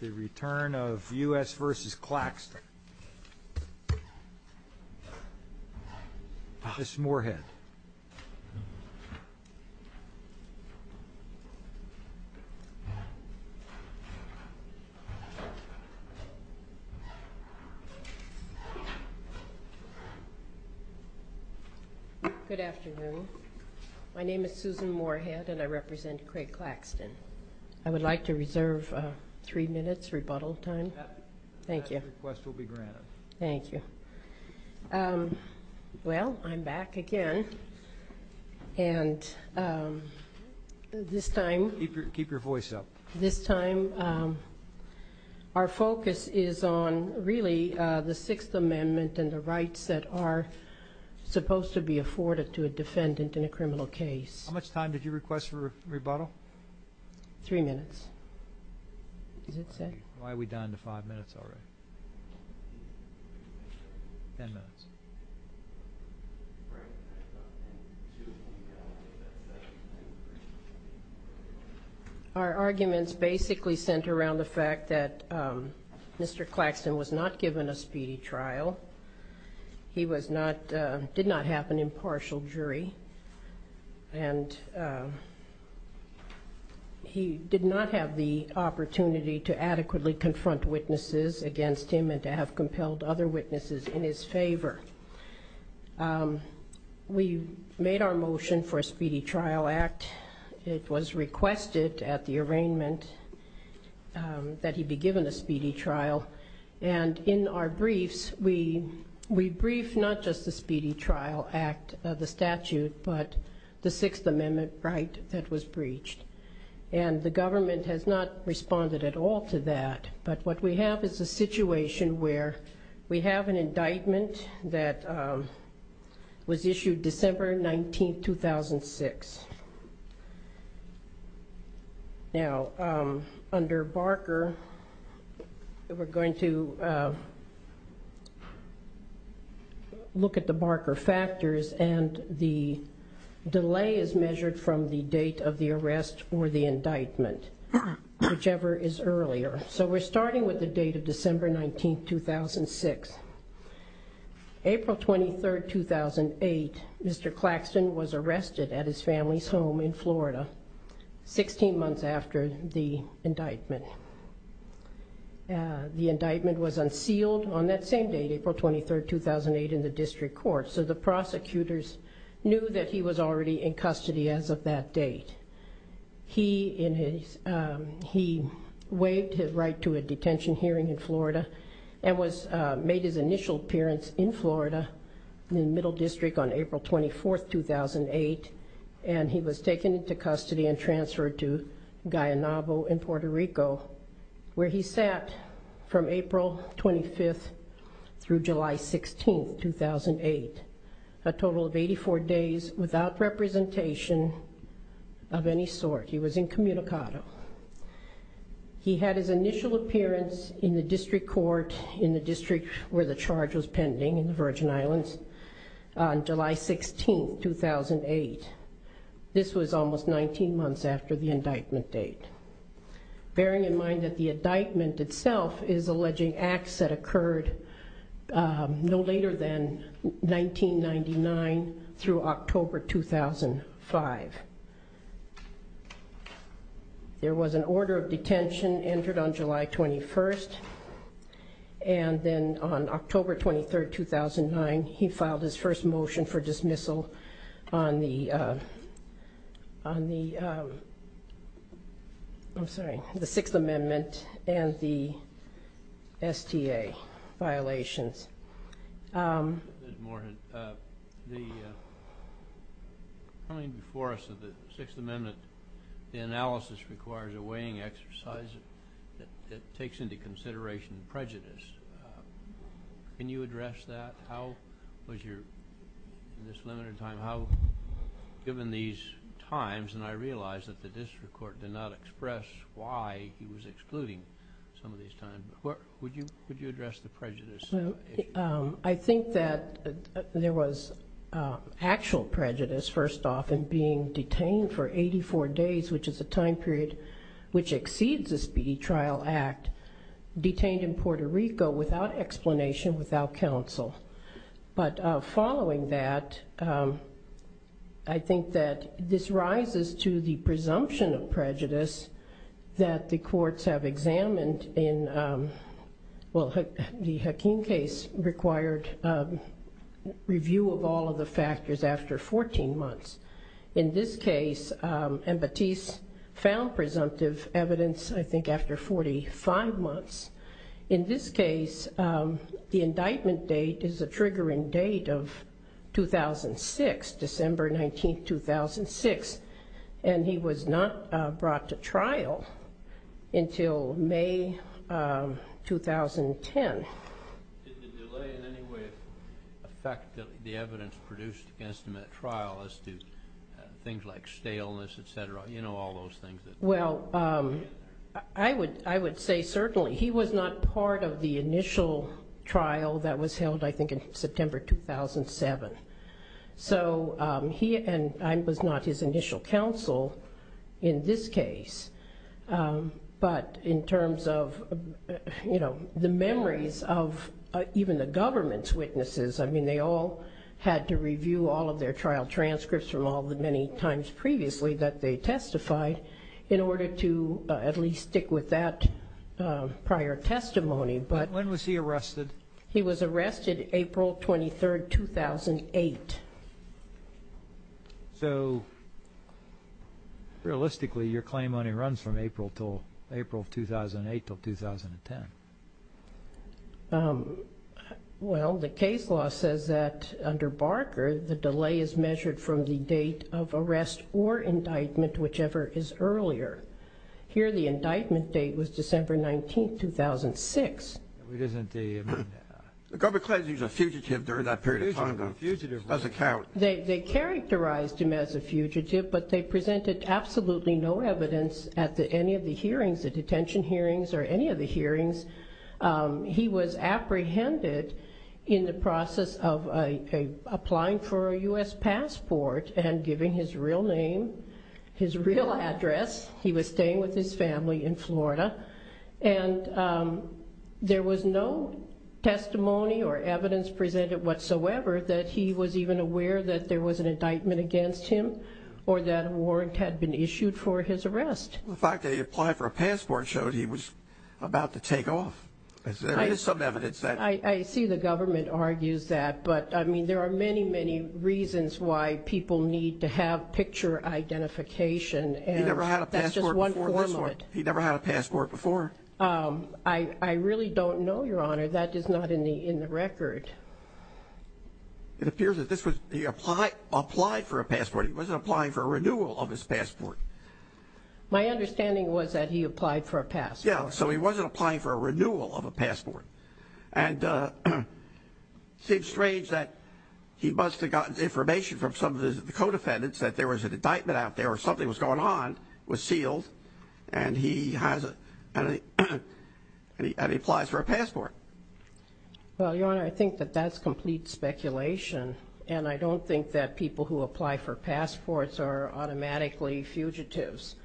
the return of U.S. v. Claxton. Mrs. Moorhead. Good afternoon. My name is Susan Moorhead and I represent Craig Claxton. I would like to reserve three minutes rebuttal time. Thank you. Thank you. Well I'm back again and this time keep your voice up. This time our focus is on really the Sixth Amendment and the rights that are supposed to be afforded to a defendant in a criminal case. How much time did you request for rebuttal? Three minutes. Why are we down to five minutes already? Our arguments basically center around the fact that Mr. Claxton was not given a speedy trial. He was not, did not have an impartial jury and he did not have the opportunity to adequately confront witnesses against him and to have compelled other witnesses in his favor. We made our motion for a speedy trial act. It was requested at the arraignment that he be given a speedy trial and in our briefs we brief not just the speedy trial act, the statute, but the Sixth Amendment right that was breached and the government has not responded at all to that but what we have is a situation where we have an indictment that was looked at the marker factors and the delay is measured from the date of the arrest or the indictment, whichever is earlier. So we're starting with the date of December 19, 2006. April 23, 2008, Mr. Claxton was arrested at his family's home in Florida, 16 months after the indictment. The indictment was unsealed on that same date, April 23, 2008, in the district court so the prosecutors knew that he was already in custody as of that date. He waived his right to a detention hearing in Florida and made his initial appearance in Florida in the taken into custody and transferred to Guaynabo in Puerto Rico where he sat from April 25th through July 16, 2008. A total of 84 days without representation of any sort. He was incommunicado. He had his initial appearance in the district court in the district where the charge was pending in the Virgin Islands on July 16, 2008. This was almost 19 months after the indictment date. Bearing in mind that the indictment itself is alleging acts that occurred no later than 1999 through October 2005. There was an order of detention entered on July 21st and then on October 23rd, 2009, he filed his first motion for dismissal on the Sixth Amendment and the STA violations. Coming before us of the Sixth Amendment, the analysis requires a weighing exercise that takes into account the time period. Can you address that? How was your, in this limited time, how given these times and I realize that the district court did not express why he was excluding some of these times, but what would you would you address the prejudice? I think that there was actual prejudice first off in being detained for 84 days which is a time period which without explanation, without counsel, but following that I think that this rises to the presumption of prejudice that the courts have examined in, well the Hakeem case required review of all of the factors after 14 months. In this case, and Batiste found presumptive evidence I think after 45 months. In this case, the indictment date is a triggering date of 2006, December 19, 2006, and he was not brought to trial until May 2010. Did the delay in any way affect the evidence produced against him at trial as to things like illness, et cetera, you know all those things? Well, I would say certainly he was not part of the initial trial that was held I think in September 2007, so he and I was not his initial counsel in this case, but in terms of, you know, the memories of even the government's witnesses, I mean they all had to review all of their trial transcripts from all the many times previously that they testified in order to at least stick with that prior testimony. But when was he arrested? He was arrested April 23, 2008. So realistically your claim only runs from April till April 2008 till 2010. Well, the case law says that under Barker the delay is from the date of arrest or indictment, whichever is earlier. Here the indictment date was December 19, 2006. But isn't the...Gilbert Clayton was a fugitive during that period of time, though. It doesn't count. They characterized him as a fugitive, but they presented absolutely no evidence at any of the hearings, the detention hearings or any of the hearings. He was apprehended in the process of applying for a U.S. passport and giving his real name, his real address. He was staying with his family in Florida, and there was no testimony or evidence presented whatsoever that he was even aware that there was an indictment against him or that a warrant had been issued for his arrest. The fact that he applied for a passport showed he was about to take off. There is some evidence that...I see the government argues that, but I mean there are many, many reasons why people need to have picture identification, and that's just one form of it. He never had a passport before? I really don't know, Your Honor. That is not in the record. It appears that this was...he applied for a passport. He wasn't applying for a renewal of his passport. My understanding was that he applied for a passport. Yeah, so he wasn't applying for a renewal of a passport. And it seems strange that he must have gotten information from some of the co-defendants that there was an indictment out there or something was going on, was sealed, and he applies for a passport. Well, Your Honor, I think that that's complete speculation, and I don't think that people who apply for passports are automatically fugitives.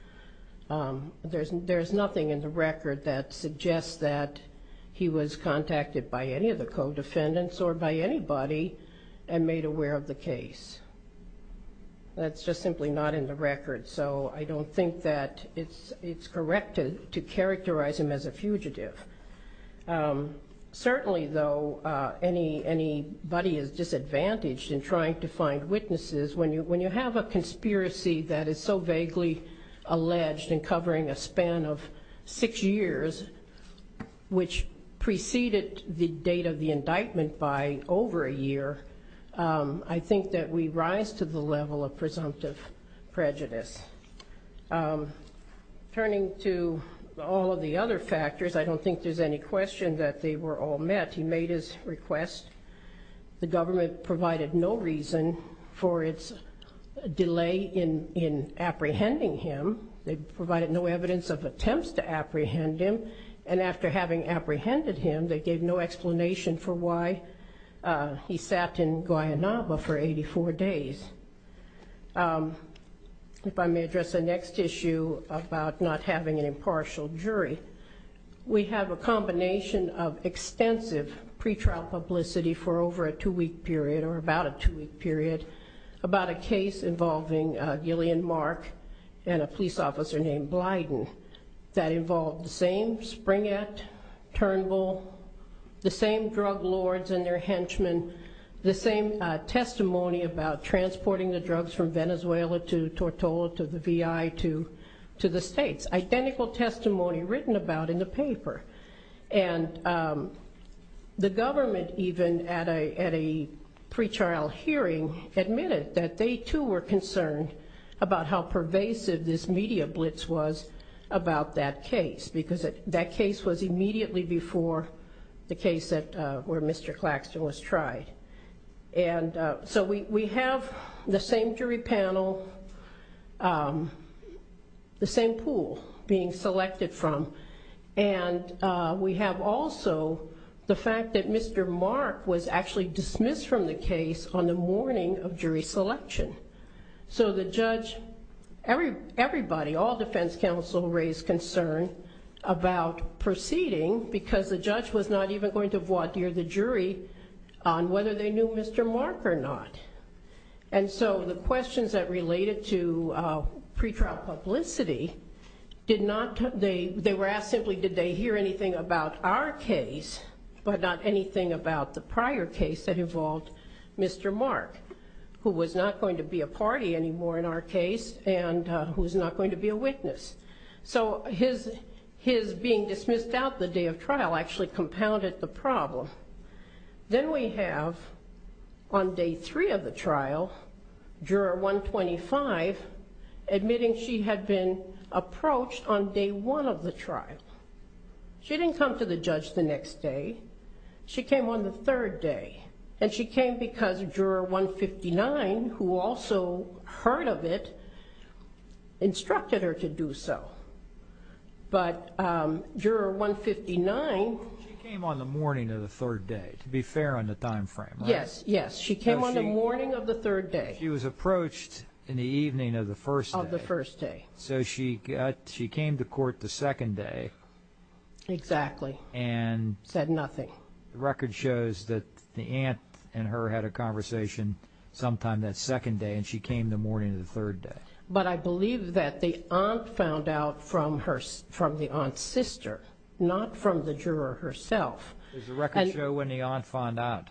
There's nothing in the record that suggests that he was contacted by any of the co-defendants or by anybody and made aware of the case. That's just simply not in the record, so I don't think that it's correct to characterize him as a fugitive. Certainly, though, anybody is disadvantaged in trying to find witnesses. When you have a conspiracy that is so vaguely alleged and covering a span of six years, which preceded the date of the indictment by over a year, I think that we rise to the level of presumptive prejudice. Turning to all of the other factors, I don't think there's any question that they were all met. He made his request. The government provided no reason for its delay in apprehending him. They provided no evidence of attempts to apprehend him, and after having apprehended him, they gave no explanation for why he sat in Guayanaba for 84 days. If I may address the next issue about not having an impartial jury. We have a combination of extensive pretrial publicity for over a two-week period, or about a two-week period, about a case involving Gillian Mark and a police officer named Blyden. That involved the same Springett, Turnbull, the same drug lords and their henchmen, the same testimony about transporting the drugs from Venezuela to Tortola to the VI to the states. Identical testimony written about in the paper. The government, even at a pretrial hearing, admitted that they, too, were concerned about how pervasive this media blitz was about that case. That case was immediately before the case where Mr. Claxton was tried. And so we have the same jury panel, the same pool being selected from. And we have also the fact that Mr. Mark was actually dismissed from the case on the morning of jury selection. So the judge, everybody, all defense counsel, raised concern about proceeding, because the judge was not even going to voir dire the jury on whether or not he was going to be tried. Whether they knew Mr. Mark or not. And so the questions that related to pretrial publicity, they were asked simply, did they hear anything about our case, but not anything about the prior case that involved Mr. Mark, who was not going to be a party anymore in our case, and who is not going to be a witness. So his being dismissed out the day of trial actually compounded the problem. Then we have, on day three of the trial, juror 125 admitting she had been approached on day one of the trial. She didn't come to the judge the next day. She came on the third day, and she came because juror 159, who also heard of it, instructed her to do so. But juror 159... She came on the morning of the third day, to be fair on the time frame, right? Yes, yes. She came on the morning of the third day. She was approached in the evening of the first day. Of the first day. So she came to court the second day. Exactly. Said nothing. The record shows that the aunt and her had a conversation sometime that second day, and she came the morning of the third day. But I believe that the aunt found out from the aunt's sister, not from the juror herself. Does the record show when the aunt found out?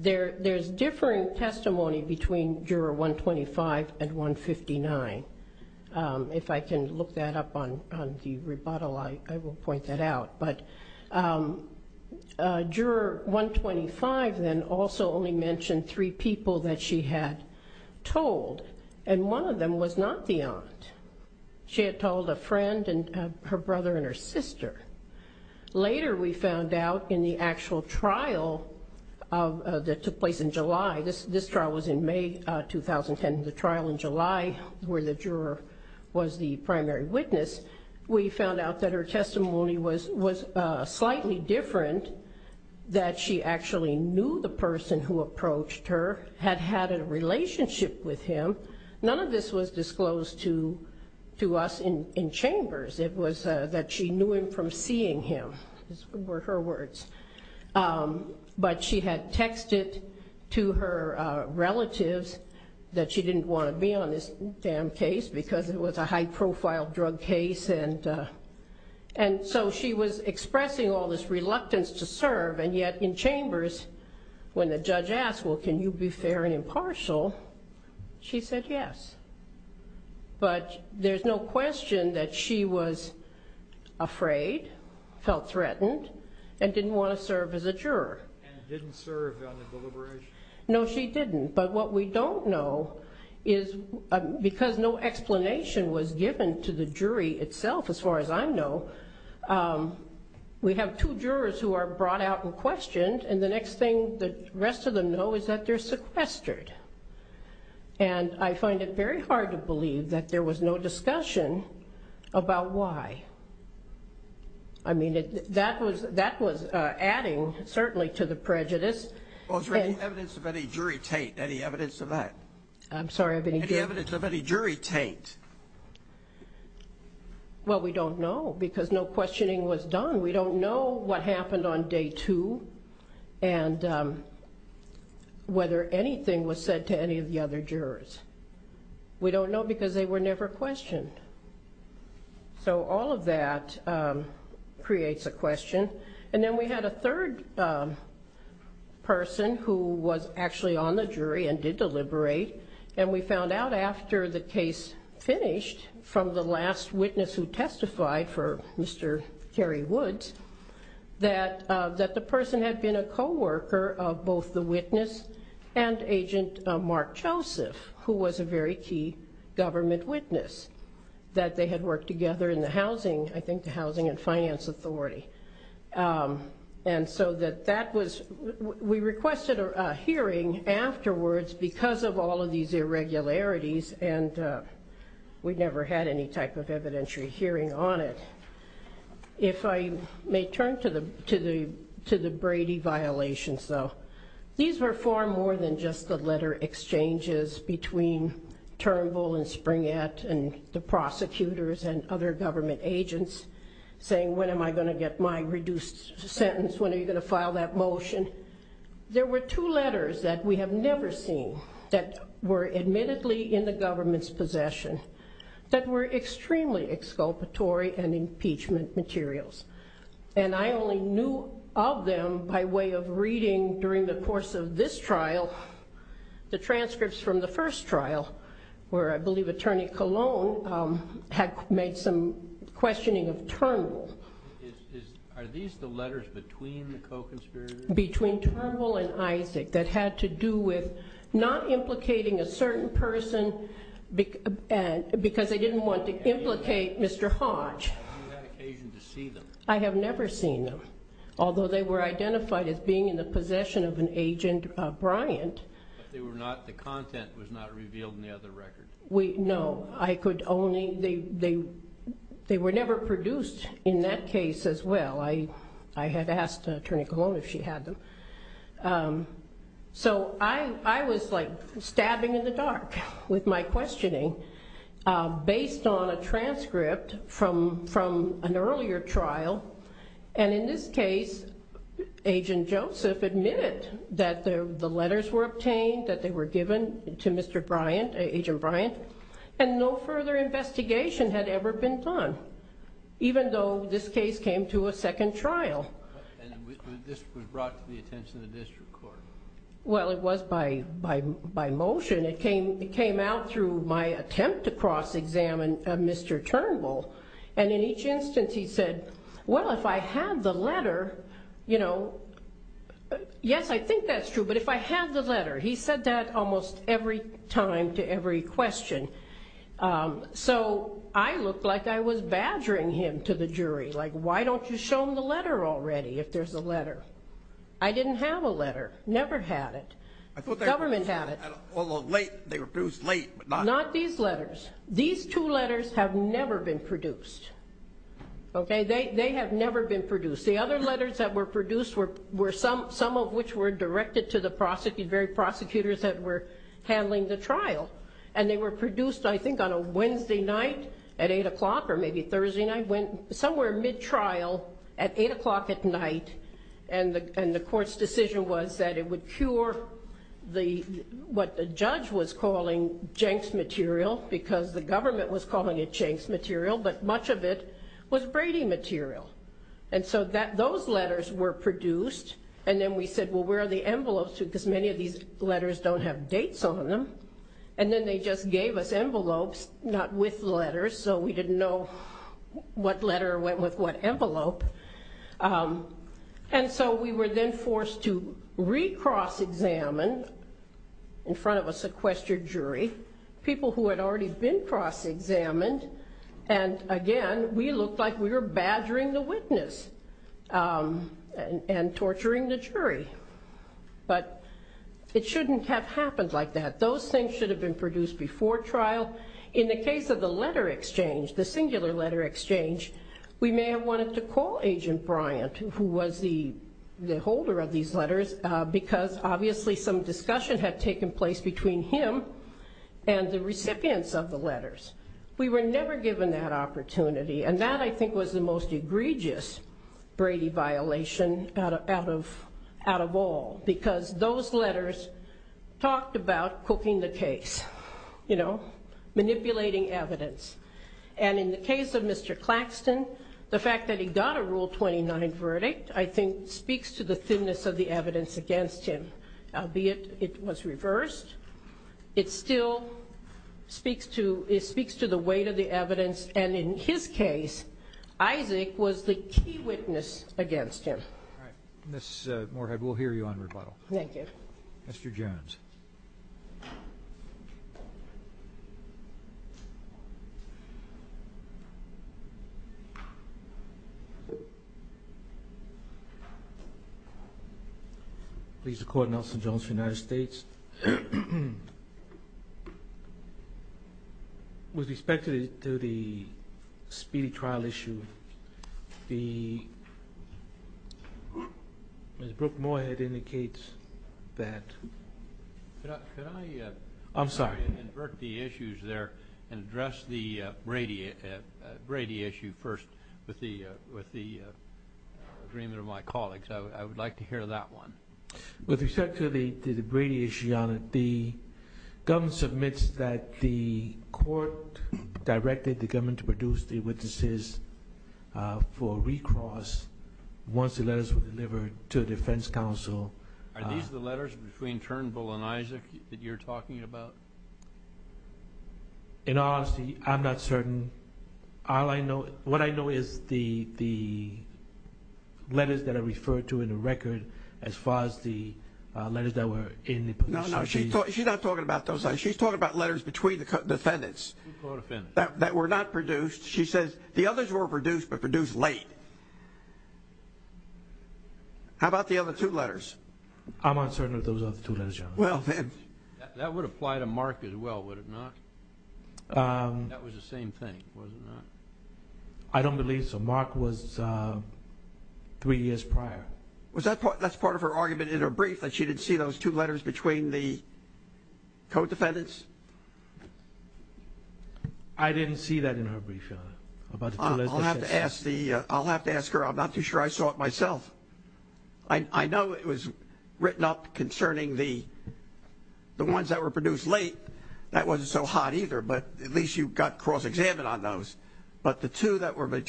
There's differing testimony between juror 125 and 159. If I can look that up on the rebuttal, I will point that out. But juror 125 then also only mentioned three people that she had told, and one of them was not the aunt. She had told a friend and her brother and her sister. Later we found out in the actual trial that took place in July. This trial was in May 2010, the trial in July where the juror was the primary witness. We found out that her testimony was slightly different, that she actually knew the person who approached her, had had a relationship with him. None of this was disclosed to us in chambers. It was that she knew him from seeing him, were her words. But she had texted to her relatives that she didn't want to be on this damn case, because it was a high-profile drug case. And so she was expressing all this reluctance to serve, and yet in chambers, when the judge asked, well, can you be fair and impartial, she said yes. But there's no question that she was afraid, felt threatened, and didn't want to serve as a juror. And didn't serve on the deliberation? No, she didn't. But what we don't know is, because no explanation was given to the jury itself, as far as I know, we have two jurors who are brought out and questioned, and the next thing the rest of them know is that they're sequestered. And I find it very hard to believe that there was no discussion about why. I mean, that was adding, certainly, to the prejudice. Well, is there any evidence of any jury taint? Any evidence of that? I'm sorry, I didn't get it. And whether anything was said to any of the other jurors. We don't know, because they were never questioned. So all of that creates a question. And then we had a third person who was actually on the jury and did deliberate, and we found out after the case finished, from the last witness who testified for Mr. Terry Woods, that the person had been a co-worker of both the witness and Agent Mark Joseph, who was a very key government witness, that they had worked together in the housing, I think, the Housing and Finance Authority. And so we requested a hearing afterwards because of all of these irregularities, and we never had any type of evidentiary hearing on it. If I may turn to the Brady violations, though, these were far more than just the letter exchanges between Turnbull and Springett and the prosecutors and other government agents saying, when am I going to get my reduced sentence, when are you going to file that motion? There were two letters that we have never seen that were admittedly in the government's possession that were extremely exculpatory and impeachment materials. And I only knew of them by way of reading during the course of this trial, the transcripts from the first trial, where I believe Attorney Colon had made some questioning of Turnbull. Are these the letters between the co-conspirators? Between Turnbull and Isaac that had to do with not implicating a certain person because they didn't want to implicate Mr. Hodge. I have never seen them, although they were identified as being in the possession of an agent, Bryant. They were not, the content was not revealed in the other record. No, I could only, they were never produced in that case as well. I had asked Attorney Colon if she had them. So I was like stabbing in the dark with my questioning based on a transcript from an earlier trial. And in this case, Agent Joseph admitted that the letters were obtained, that they were given to Mr. Bryant, Agent Bryant, and no further investigation had ever been done, even though this case came to a second trial. And this was brought to the attention of the district court. Well, it was by motion. It came out through my attempt to cross-examine Mr. Turnbull. And in each instance he said, well, if I had the letter, you know, yes, I think that's true, but if I had the letter, he said that almost every time to every question. So I looked like I was badgering him to the jury, like, why don't you show him the letter already, if there's a letter? I didn't have a letter, never had it. The government had it. Although late, they were produced late. Not these letters. These two letters have never been produced. They have never been produced. The other letters that were produced were some of which were directed to the very prosecutors that were handling the trial. And they were produced, I think, on a Wednesday night at 8 o'clock or maybe Thursday night, somewhere mid-trial at 8 o'clock at night. And the court's decision was that it would cure what the judge was calling Jenks material, because the government was calling it Jenks material, but much of it was Brady material. And so those letters were produced. And then we said, well, where are the envelopes? Because many of these letters don't have dates on them. And then they just gave us envelopes, not with letters. So we didn't know what letter went with what envelope. And so we were then forced to re-cross-examine in front of a sequestered jury, people who had already been cross-examined. And again, we looked like we were badgering the witness and torturing the jury. But it shouldn't have happened like that. Those things should have been produced before trial. In the case of the letter exchange, the singular letter exchange, we may have wanted to call Agent Bryant, who was the holder of these letters, because obviously some discussion had taken place between him and the recipients of the letters. We were never given that opportunity. And that, I think, was the most egregious Brady violation out of all, because those letters talked about cooking the case, manipulating evidence. And in the case of Mr. Claxton, the fact that he got a Rule 29 verdict, I think, speaks to the thinness of the evidence against him, albeit it was reversed. It still speaks to the weight of the evidence. And in his case, Isaac was the key witness against him. All right. Ms. Moorhead, we'll hear you on rebuttal. Thank you. Mr. Jones. Please record, Nelson Jones for the United States. With respect to the speedy trial issue, the... Ms. Brooke Moorhead indicates that... Could I... I'm sorry. ...invert the issues there and address the Brady issue first with the agreement of my colleagues? I would like to hear that one. With respect to the Brady issue, Your Honor, the government submits that the court directed the government to produce the witnesses for recross once the letters were delivered to the defense counsel. Are these the letters between Turnbull and Isaac that you're talking about? In all honesty, I'm not certain. All I know... What I know is the letters that are referred to in the record as far as the letters that were in the... No, no. She's not talking about those letters. She's talking about letters between the defendants that were not produced. She says the others were produced but produced late. How about the other two letters? I'm uncertain if those are the two letters, Your Honor. That would apply to Mark as well, would it not? That was the same thing, was it not? I don't believe so. Mark was three years prior. Was that part of her argument in her brief that she didn't see those two letters between the co-defendants? I didn't see that in her brief, Your Honor. I'll have to ask her. I'm not too sure I saw it myself. I know it was written up concerning the ones that were produced late. That wasn't so hot either, but at least you got cross-examined on those. But the two that were...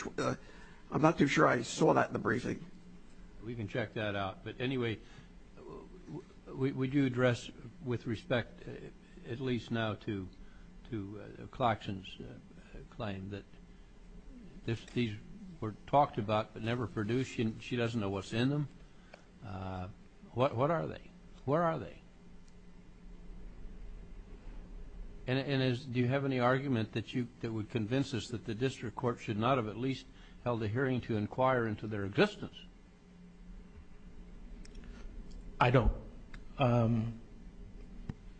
I'm not too sure I saw that in the briefing. We can check that out. But anyway, would you address with respect at least now to Claxton's claim that these were talked about but never produced? She doesn't know what's in them? What are they? Where are they? And do you have any argument that would convince us that the district court should not have at least held a hearing to inquire into their existence? I don't.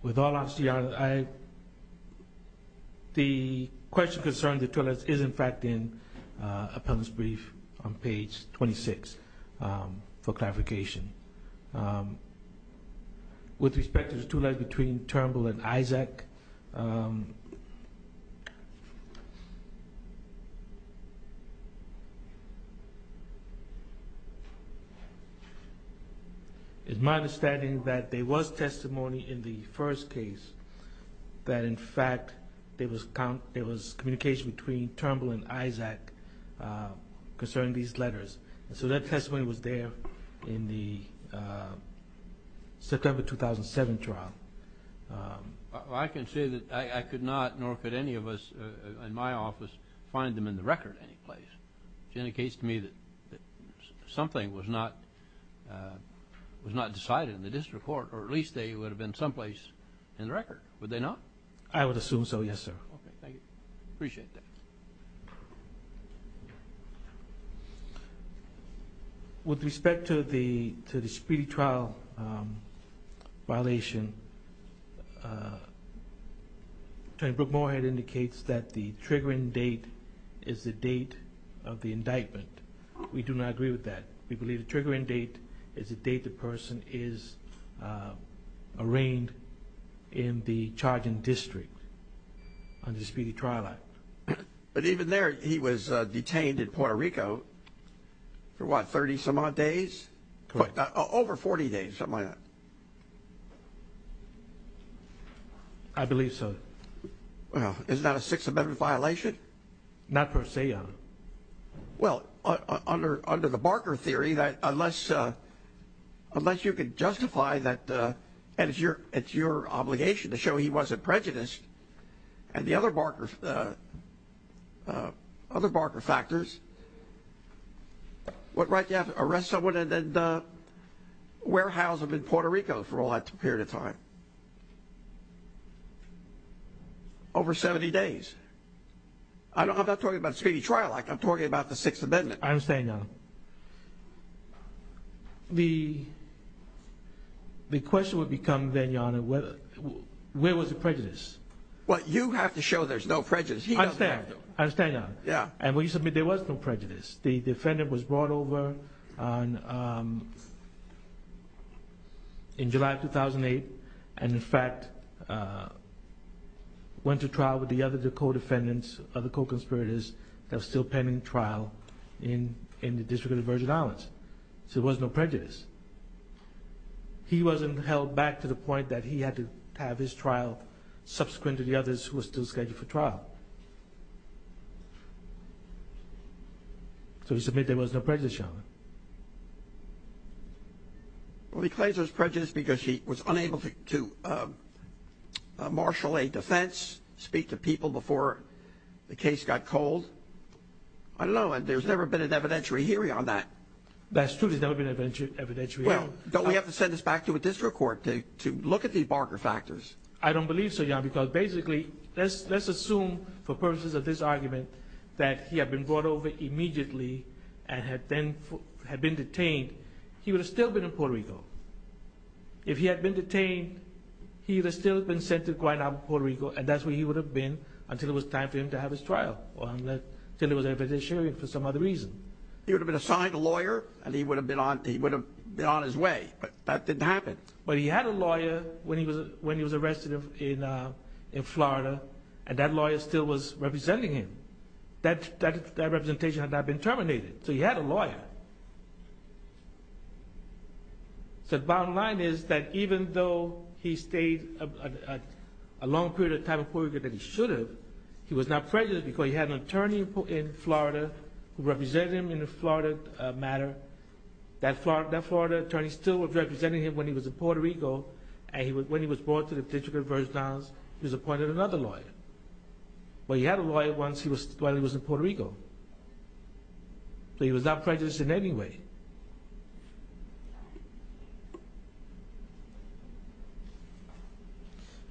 With all honesty, Your Honor, the question concerning the two letters is in fact in for clarification. With respect to the two letters between Turnbull and Isaac, it's my understanding that there was testimony in the first case that in fact there was communication between Turnbull and Isaac concerning these letters. So that testimony was there in the September 2007 trial. I can say that I could not, nor could any of us in my office, find them in the record any place. Which indicates to me that something was not decided in the district court, or at least they would have been someplace in the record, would they not? I would assume so, yes, sir. With respect to the speedy trial violation, Attorney Brooke Morehead indicates that the triggering date is the date of the indictment. We do not agree with that. We believe the triggering date is the date the person is arraigned in the charging district under the Speedy Trial Act. But even there, he was detained in Puerto Rico for what, 30 some odd days? Correct. I believe so. Well, is that a Sixth Amendment violation? Not per se, Your Honor. Well, under the Barker theory, unless you can justify that, and it's your obligation to show he wasn't prejudiced, and the other Barker factors, what right do you have to arrest someone and then warehouse them in Puerto Rico for all that period of time? Over 70 days. I'm not talking about Speedy Trial Act. I'm talking about the Sixth Amendment. I understand, Your Honor. The question would become then, Your Honor, where was the prejudice? Well, you have to show there's no prejudice. He doesn't have to. I understand, Your Honor. And when you submit there was no prejudice. The defendant was brought over in July of 2008, and in fact went to trial with the other co-defendants, other co-conspirators that were still pending trial in the District of the Virgin Islands. So there was no prejudice. He wasn't held back to the point that he had to have his trial subsequent to the others who were still scheduled for trial. So you submit there was no prejudice, Your Honor. Well, he claims there was prejudice because he was unable to marshal a defense, speak to people before the case got cold. I don't know. And there's never been an evidentiary hearing on that. That's true. There's never been an evidentiary hearing. Well, don't we have to send this back to a district court to look at these barker factors? I don't believe so, Your Honor, because basically let's assume for purposes of this argument that he had been brought over immediately and had been detained, he would have still been in Puerto Rico. If he had been detained, he would have still been sent to Guayana, Puerto Rico, and that's where he would have been until it was time for him to have his trial, until there was an evidentiary hearing for some other reason. He would have been assigned a lawyer, and he would have been on his way, but that didn't happen. But he had a lawyer when he was arrested in Florida, and that lawyer still was representing him. That representation had not been terminated. So he had a lawyer. So the bottom line is that even though he stayed a long period of time in Puerto Rico that he should have, he was not prejudiced because he had an attorney in Florida who represented him in a Florida matter. That Florida attorney still was representing him when he was in Puerto Rico, and when he was brought to the District of Virgin Islands, he was appointed another lawyer. But he had a lawyer while he was in Puerto Rico, so he was not prejudiced in any way.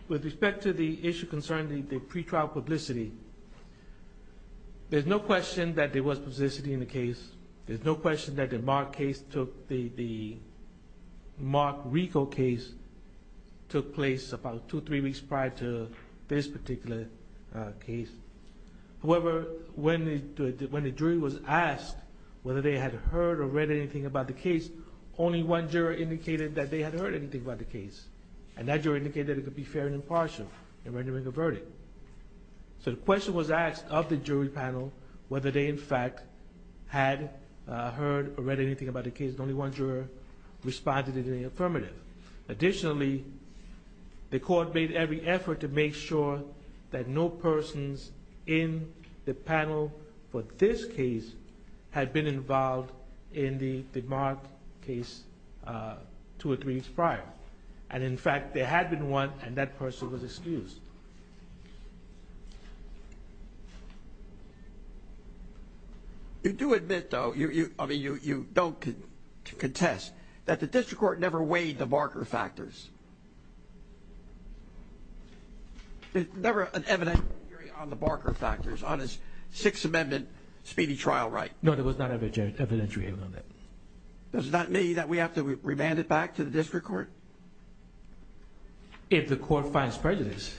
With respect to the issue concerning the pretrial publicity, there's no question that there was publicity in the case. There's no question that the Mark case took, the Mark Rico case took place about two or three weeks prior to this particular case. However, when the jury was asked whether they had heard or read anything about the case, only one juror indicated that they had heard anything about the case, and that juror indicated it could be fair and impartial in rendering a verdict. So the question was asked of the jury panel whether they in fact had heard or read anything about the case, and only one juror responded in the affirmative. Additionally, the court made every effort to make sure that no persons in the panel for this case had been involved in the Mark case two or three weeks prior. And in fact, there had been one, and that person was excused. You do admit, though, I mean, you don't contest, that the district court never weighed the Barker factors. There's never an evidentiary on the Barker factors on a Sixth Amendment speedy trial right. No, there was not an evidentiary on that. Does that mean that we have to remand it back to the district court? If the court finds prejudice.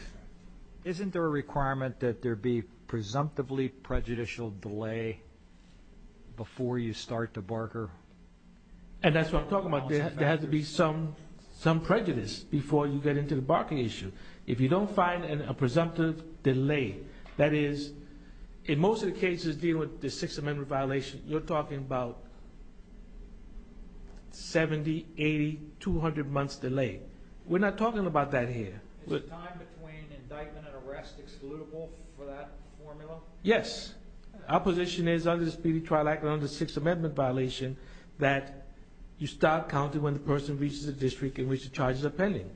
Isn't there a requirement that there be presumptively prejudicial delay before you start the Barker? And that's what I'm talking about. There has to be some prejudice before you get into the Barker issue. If you don't find a presumptive delay, that is, in most of the cases dealing with the Sixth Amendment violation, you're talking about 70, 80, 200 months delay. We're not talking about that here. Is the time between indictment and arrest excludable for that formula? Yes, our position is under the Speedy Trial Act and under the Sixth Amendment violation that you start counting when the person reaches a district in which the charges are pending.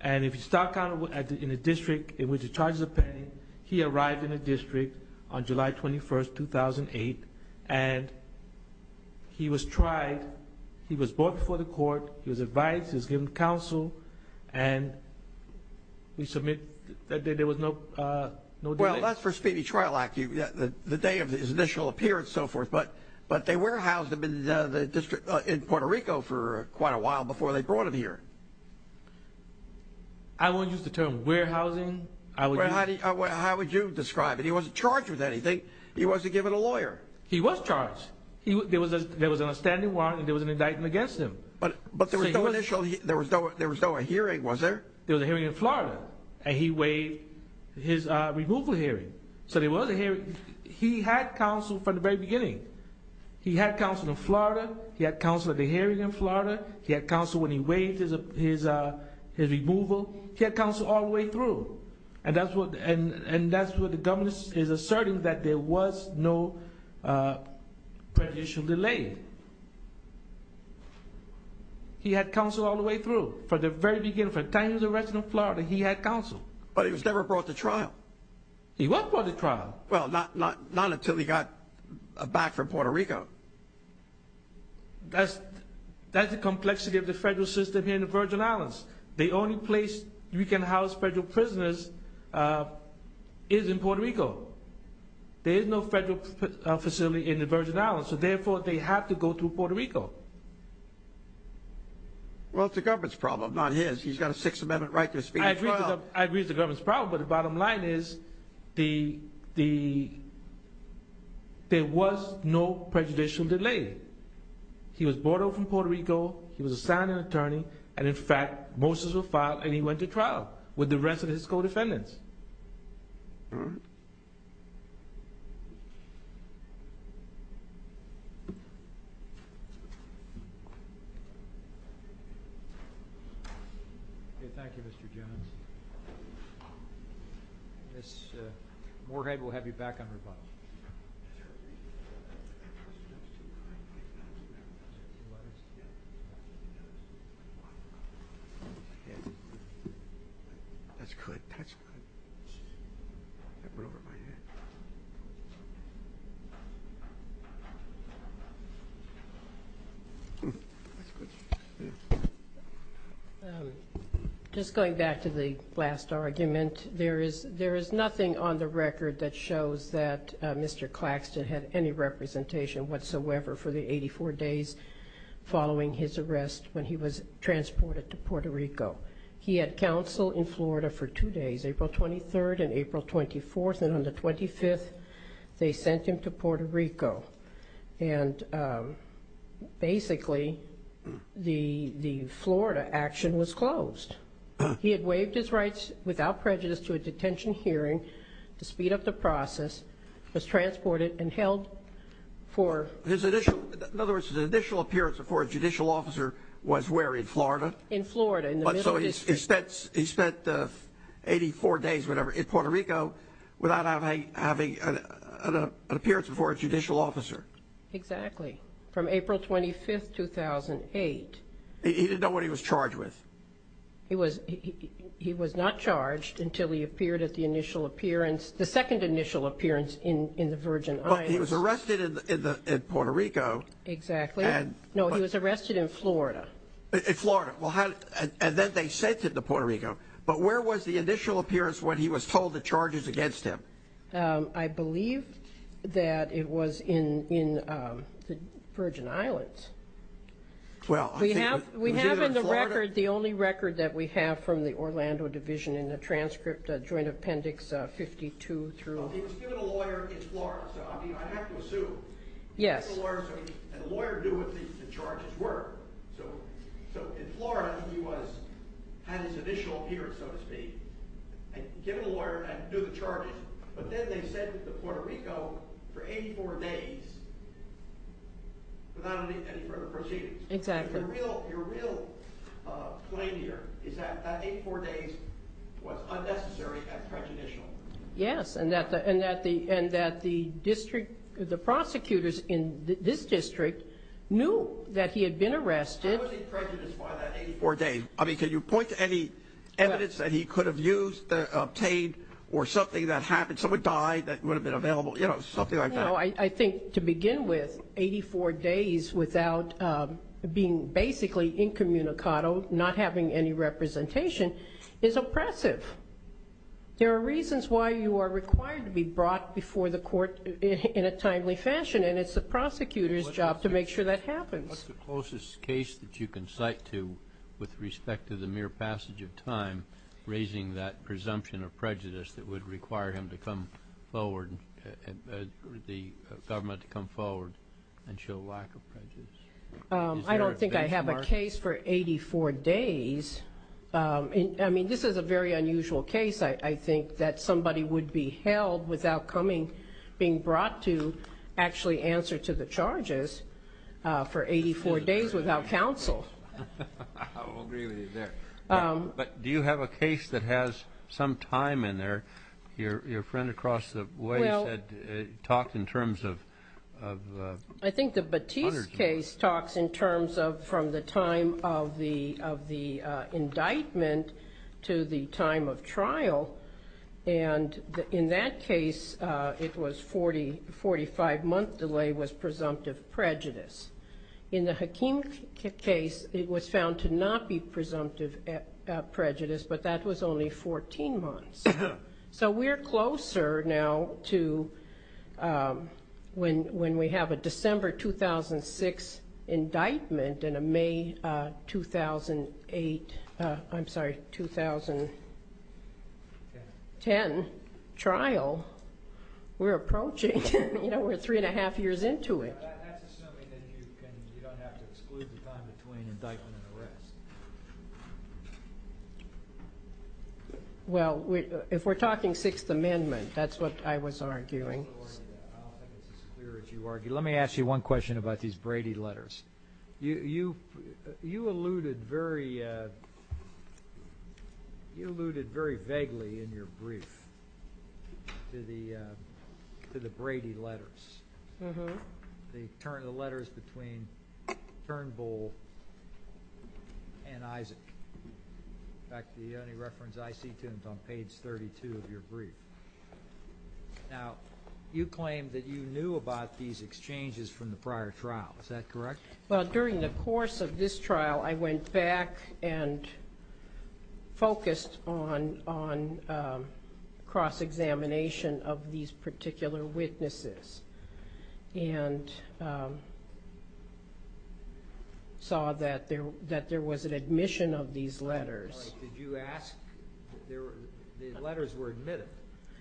And if you start counting in a district in which the charges are pending, he arrived in a district on July 21, 2008, and he was tried, he was brought before the court, he was advised, he was given counsel, and we submit that there was no delay. Well, that's for Speedy Trial Act, the day of his initial appearance and so forth. But they warehoused him in Puerto Rico for quite a while before they brought him here. I won't use the term warehousing. How would you describe it? He wasn't charged with anything. He wasn't given a lawyer. He was charged. There was an outstanding warrant and there was an indictment against him. But there was no hearing, was there? There was a hearing in Florida, and he waived his removal hearing. He had counsel from the very beginning. He had counsel in Florida. He had counsel at the hearing in Florida. He had counsel when he waived his removal. He had counsel all the way through, and that's what the government is asserting, that there was no prejudicial delay. He had counsel all the way through. From the very beginning, from the time he was arrested in Florida, he had counsel. But he was never brought to trial. He was brought to trial. Well, not until he got back from Puerto Rico. That's the complexity of the federal system here in the Virgin Islands. The only place you can house federal prisoners is in Puerto Rico. There is no federal facility in the Virgin Islands. So therefore, they have to go through Puerto Rico. Well, it's the government's problem, not his. He's got a Sixth Amendment right to his feet. I agree it's the government's problem, but the bottom line is there was no prejudicial delay. He was brought over from Puerto Rico. He was assigned an attorney, and in fact, Moses was filed, and he went to trial with the rest of his co-defendants. Ms. Moorhead, we'll have you back on rebuttal. That's good. Just going back to the last argument, there is nothing on the record that shows that Mr. Claxton had any representation whatsoever for the 84 days following his arrest when he was transported to Puerto Rico. He had counsel in Florida for two days, April 23rd and April 24th, and on the 25th, they sent him to Puerto Rico. And basically, the Florida action was closed. He had waived his rights without prejudice to a detention hearing to speed up the process, was transported and held for... In other words, his initial appearance before a judicial officer was where, in Florida? In Florida, in the Middle District. But so he spent 84 days in Puerto Rico without having an appearance before a judicial officer. Exactly, from April 25th, 2008. He didn't know what he was charged with. He was not charged until he appeared at the initial appearance, the second initial appearance in the Virgin Islands. But he was arrested in Puerto Rico. In Florida. And then they sent him to Puerto Rico. But where was the initial appearance when he was told the charges against him? I believe that it was in the Virgin Islands. We have in the record the only record that we have from the Orlando Division in the transcript, Joint Appendix 52. He was given a lawyer in Florida, so I have to assume. And the lawyer knew what the charges were. So in Florida, he had his initial appearance, so to speak. But then they sent him to Puerto Rico for 84 days without any further proceedings. Your real claim here is that 84 days was unnecessary and prejudicial. Yes, and that the district, the prosecutors in this district knew that he had been arrested. How was he prejudiced by that 84 days? I mean, can you point to any evidence that he could have used, obtained, or something that happened? Someone died that would have been available? You know, something like that. No, I think to begin with, 84 days without being basically incommunicado, not having any representation, is oppressive. There are reasons why you are required to be brought before the court in a timely fashion, and it's the prosecutor's job to make sure that happens. What's the closest case that you can cite to, with respect to the mere passage of time, raising that presumption of prejudice that would require him to come forward, the government to come forward and show lack of prejudice? I don't think I have a case for 84 days. I mean, this is a very unusual case. I think that somebody would be held without coming, being brought to actually answer to the charges for 84 days without counsel. I will agree with you there. But do you have a case that has some time in there? Your friend across the way talked in terms of hundreds of minutes. And in that case, it was 40, 45-month delay was presumptive prejudice. In the Hakeem case, it was found to not be presumptive prejudice, but that was only 14 months. So we're closer now to when we have a December 2006 indictment and a May 2008, I'm sorry, 2010 trial. We're approaching. We're three and a half years into it. Well, if we're talking Sixth Amendment, that's what I was arguing. Let me ask you one question about these Brady letters. You alluded very vaguely in your brief to the Brady letters, the letters between Turnbull and Isaac. In fact, the only reference I see to them is on page 32 of your brief. Now, you claim that you knew about these exchanges from the prior trial. Is that correct? Well, during the course of this trial, I went back and focused on cross-examination of these particular witnesses and saw that there was an admission of these letters. Did you ask? The letters were admitted,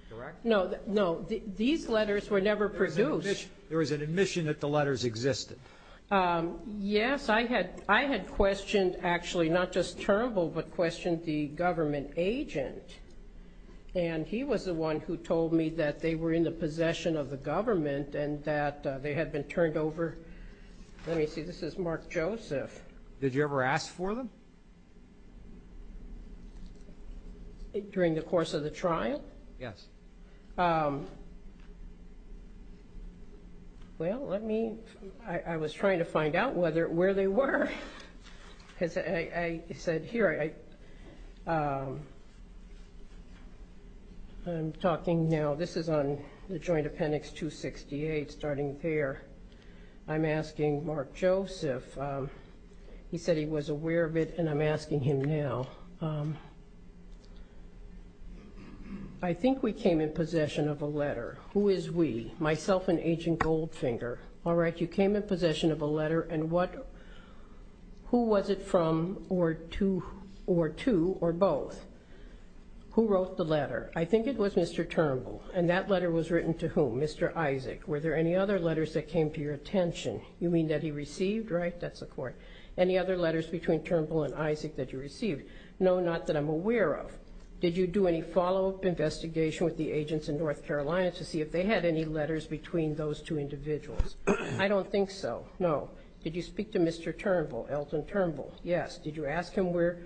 correct? No. These letters were never produced. There was an admission that the letters existed? Yes. I had questioned actually not just Turnbull, but questioned the government agent. And he was the one who told me that they were in the possession of the government and that they had been turned over. Let me see. This is Mark Joseph. Did you ever ask for them? During the course of the trial? Yes. Well, I was trying to find out where they were. I'm talking now. This is on the Joint Appendix 268, starting there. I'm asking Mark Joseph. He said he was aware of it, and I'm asking him now. I think we came in possession of a letter. Who is we? Myself and Agent Goldfinger. All right. You came in possession of a letter. Who was it from or to or both? Who wrote the letter? I think it was Mr. Turnbull. And that letter was written to whom? Mr. Isaac. Were there any other letters that came to your attention? You mean that he received, right? That's the court. Any other letters between Turnbull and Isaac that you received? No, not that I'm aware of. Did you do any follow-up investigation with the agents in North Carolina to see if they had any letters between those two individuals? I don't think so. No. Did you speak to Mr. Turnbull, Elton Turnbull? Yes. Did you ask him were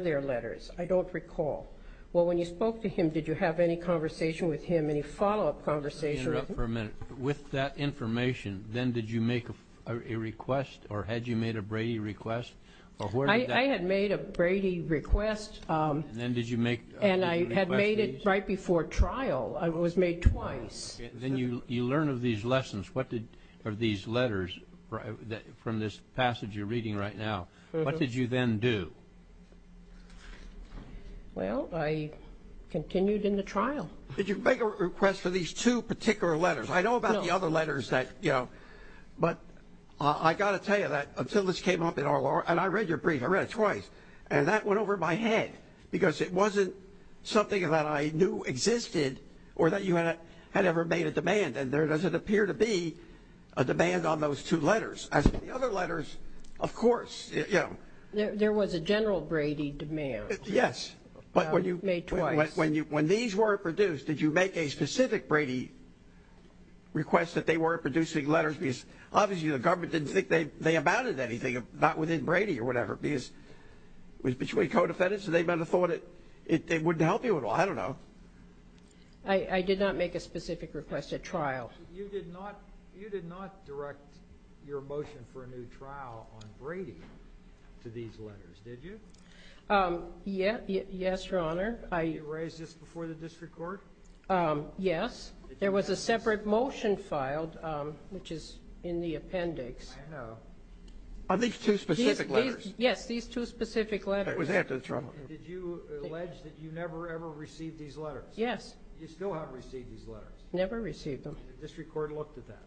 there letters? I don't recall. Well, when you spoke to him, did you have any conversation with him, any follow-up conversation with him? Let me interrupt for a minute. With that information, then did you make a request or had you made a Brady request? I had made a Brady request and I had made it right before trial. I was made twice. Then you learn of these lessons. What did these letters from this passage you're reading right now, what did you then do? Well, I continued in the trial. Did you make a request for these two particular letters? I know about the other letters that, you know. But I got to tell you that until this came up in our law, and I read your brief, I read it twice. And that went over my head because it wasn't something that I knew existed or that you had ever made a demand. And there doesn't appear to be a demand on those two letters. As for the other letters, of course. There was a general Brady demand. Yes. Made twice. But when these were produced, did you make a specific Brady request that they weren't producing letters? Because obviously the government didn't think they amounted to anything, not within Brady or whatever. Because it was between co-defendants, so they would have thought it wouldn't help you at all. I don't know. I did not make a specific request at trial. You did not direct your motion for a new trial on Brady to these letters, did you? Yes, Your Honor. Did you raise this before the district court? Yes. There was a separate motion filed, which is in the appendix. On these two specific letters? Yes, these two specific letters. Did you allege that you never ever received these letters? Yes. Did the district court look at that?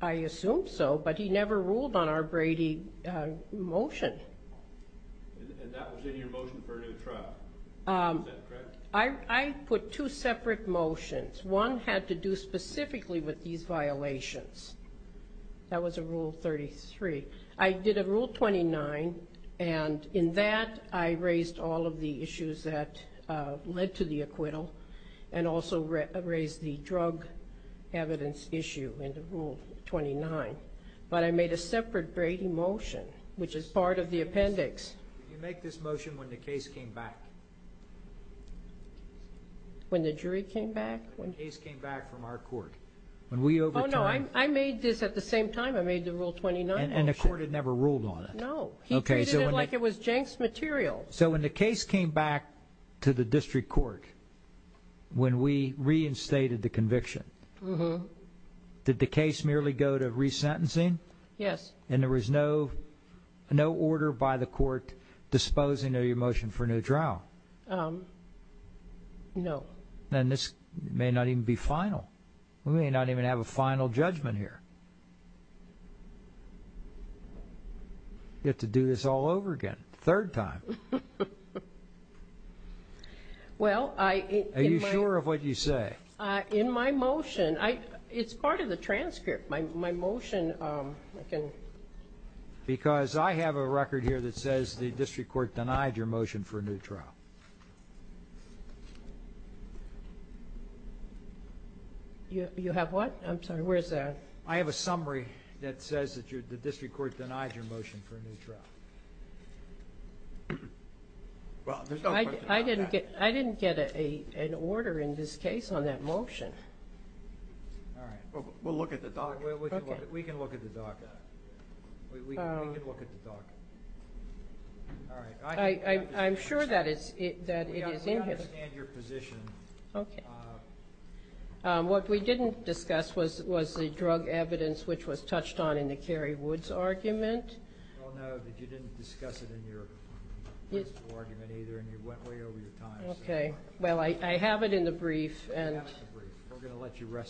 I assume so, but he never ruled on our Brady motion. And that was in your motion for a new trial. Is that correct? I put two separate motions. One had to do specifically with these violations. That was a Rule 33. I did a Rule 29, and in that I raised all of the issues that led to the acquittal and also raised the drug evidence issue in the Rule 29. But I made a separate Brady motion, which is part of the appendix. Did you make this motion when the case came back? When the jury came back? When the case came back from our court. Oh, no, I made this at the same time I made the Rule 29 motion. And the court had never ruled on it? No, he treated it like it was Jenks material. So when the case came back to the district court, when we reinstated the conviction, did the case merely go to resentencing? Yes. And there was no order by the court disposing of your motion for a new trial? No. Then this may not even be final. We may not even have a final judgment here. You have to do this all over again, a third time. Are you sure of what you say? In my motion. It's part of the transcript. Because I have a record here that says the district court denied your motion for a new trial. You have what? I have a summary that says that the district court denied your motion for a new trial. I didn't get an order in this case on that motion. All right. We'll look at the docket. We can look at the docket. I'm sure that it is in here. I understand your position. What we didn't discuss was the drug evidence which was touched on in the Carrie Woods argument. We all know that you didn't discuss it in your principle argument either and you went way over your time. Well, I have it in the brief.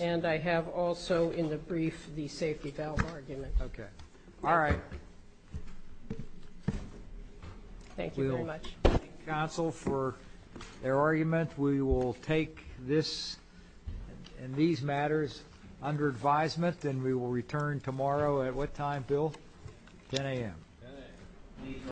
And I have also in the brief the safety valve argument. Okay. All right. Thank you very much. We will take this and these matters under advisement and we will return tomorrow at what time, Bill? 10 a.m.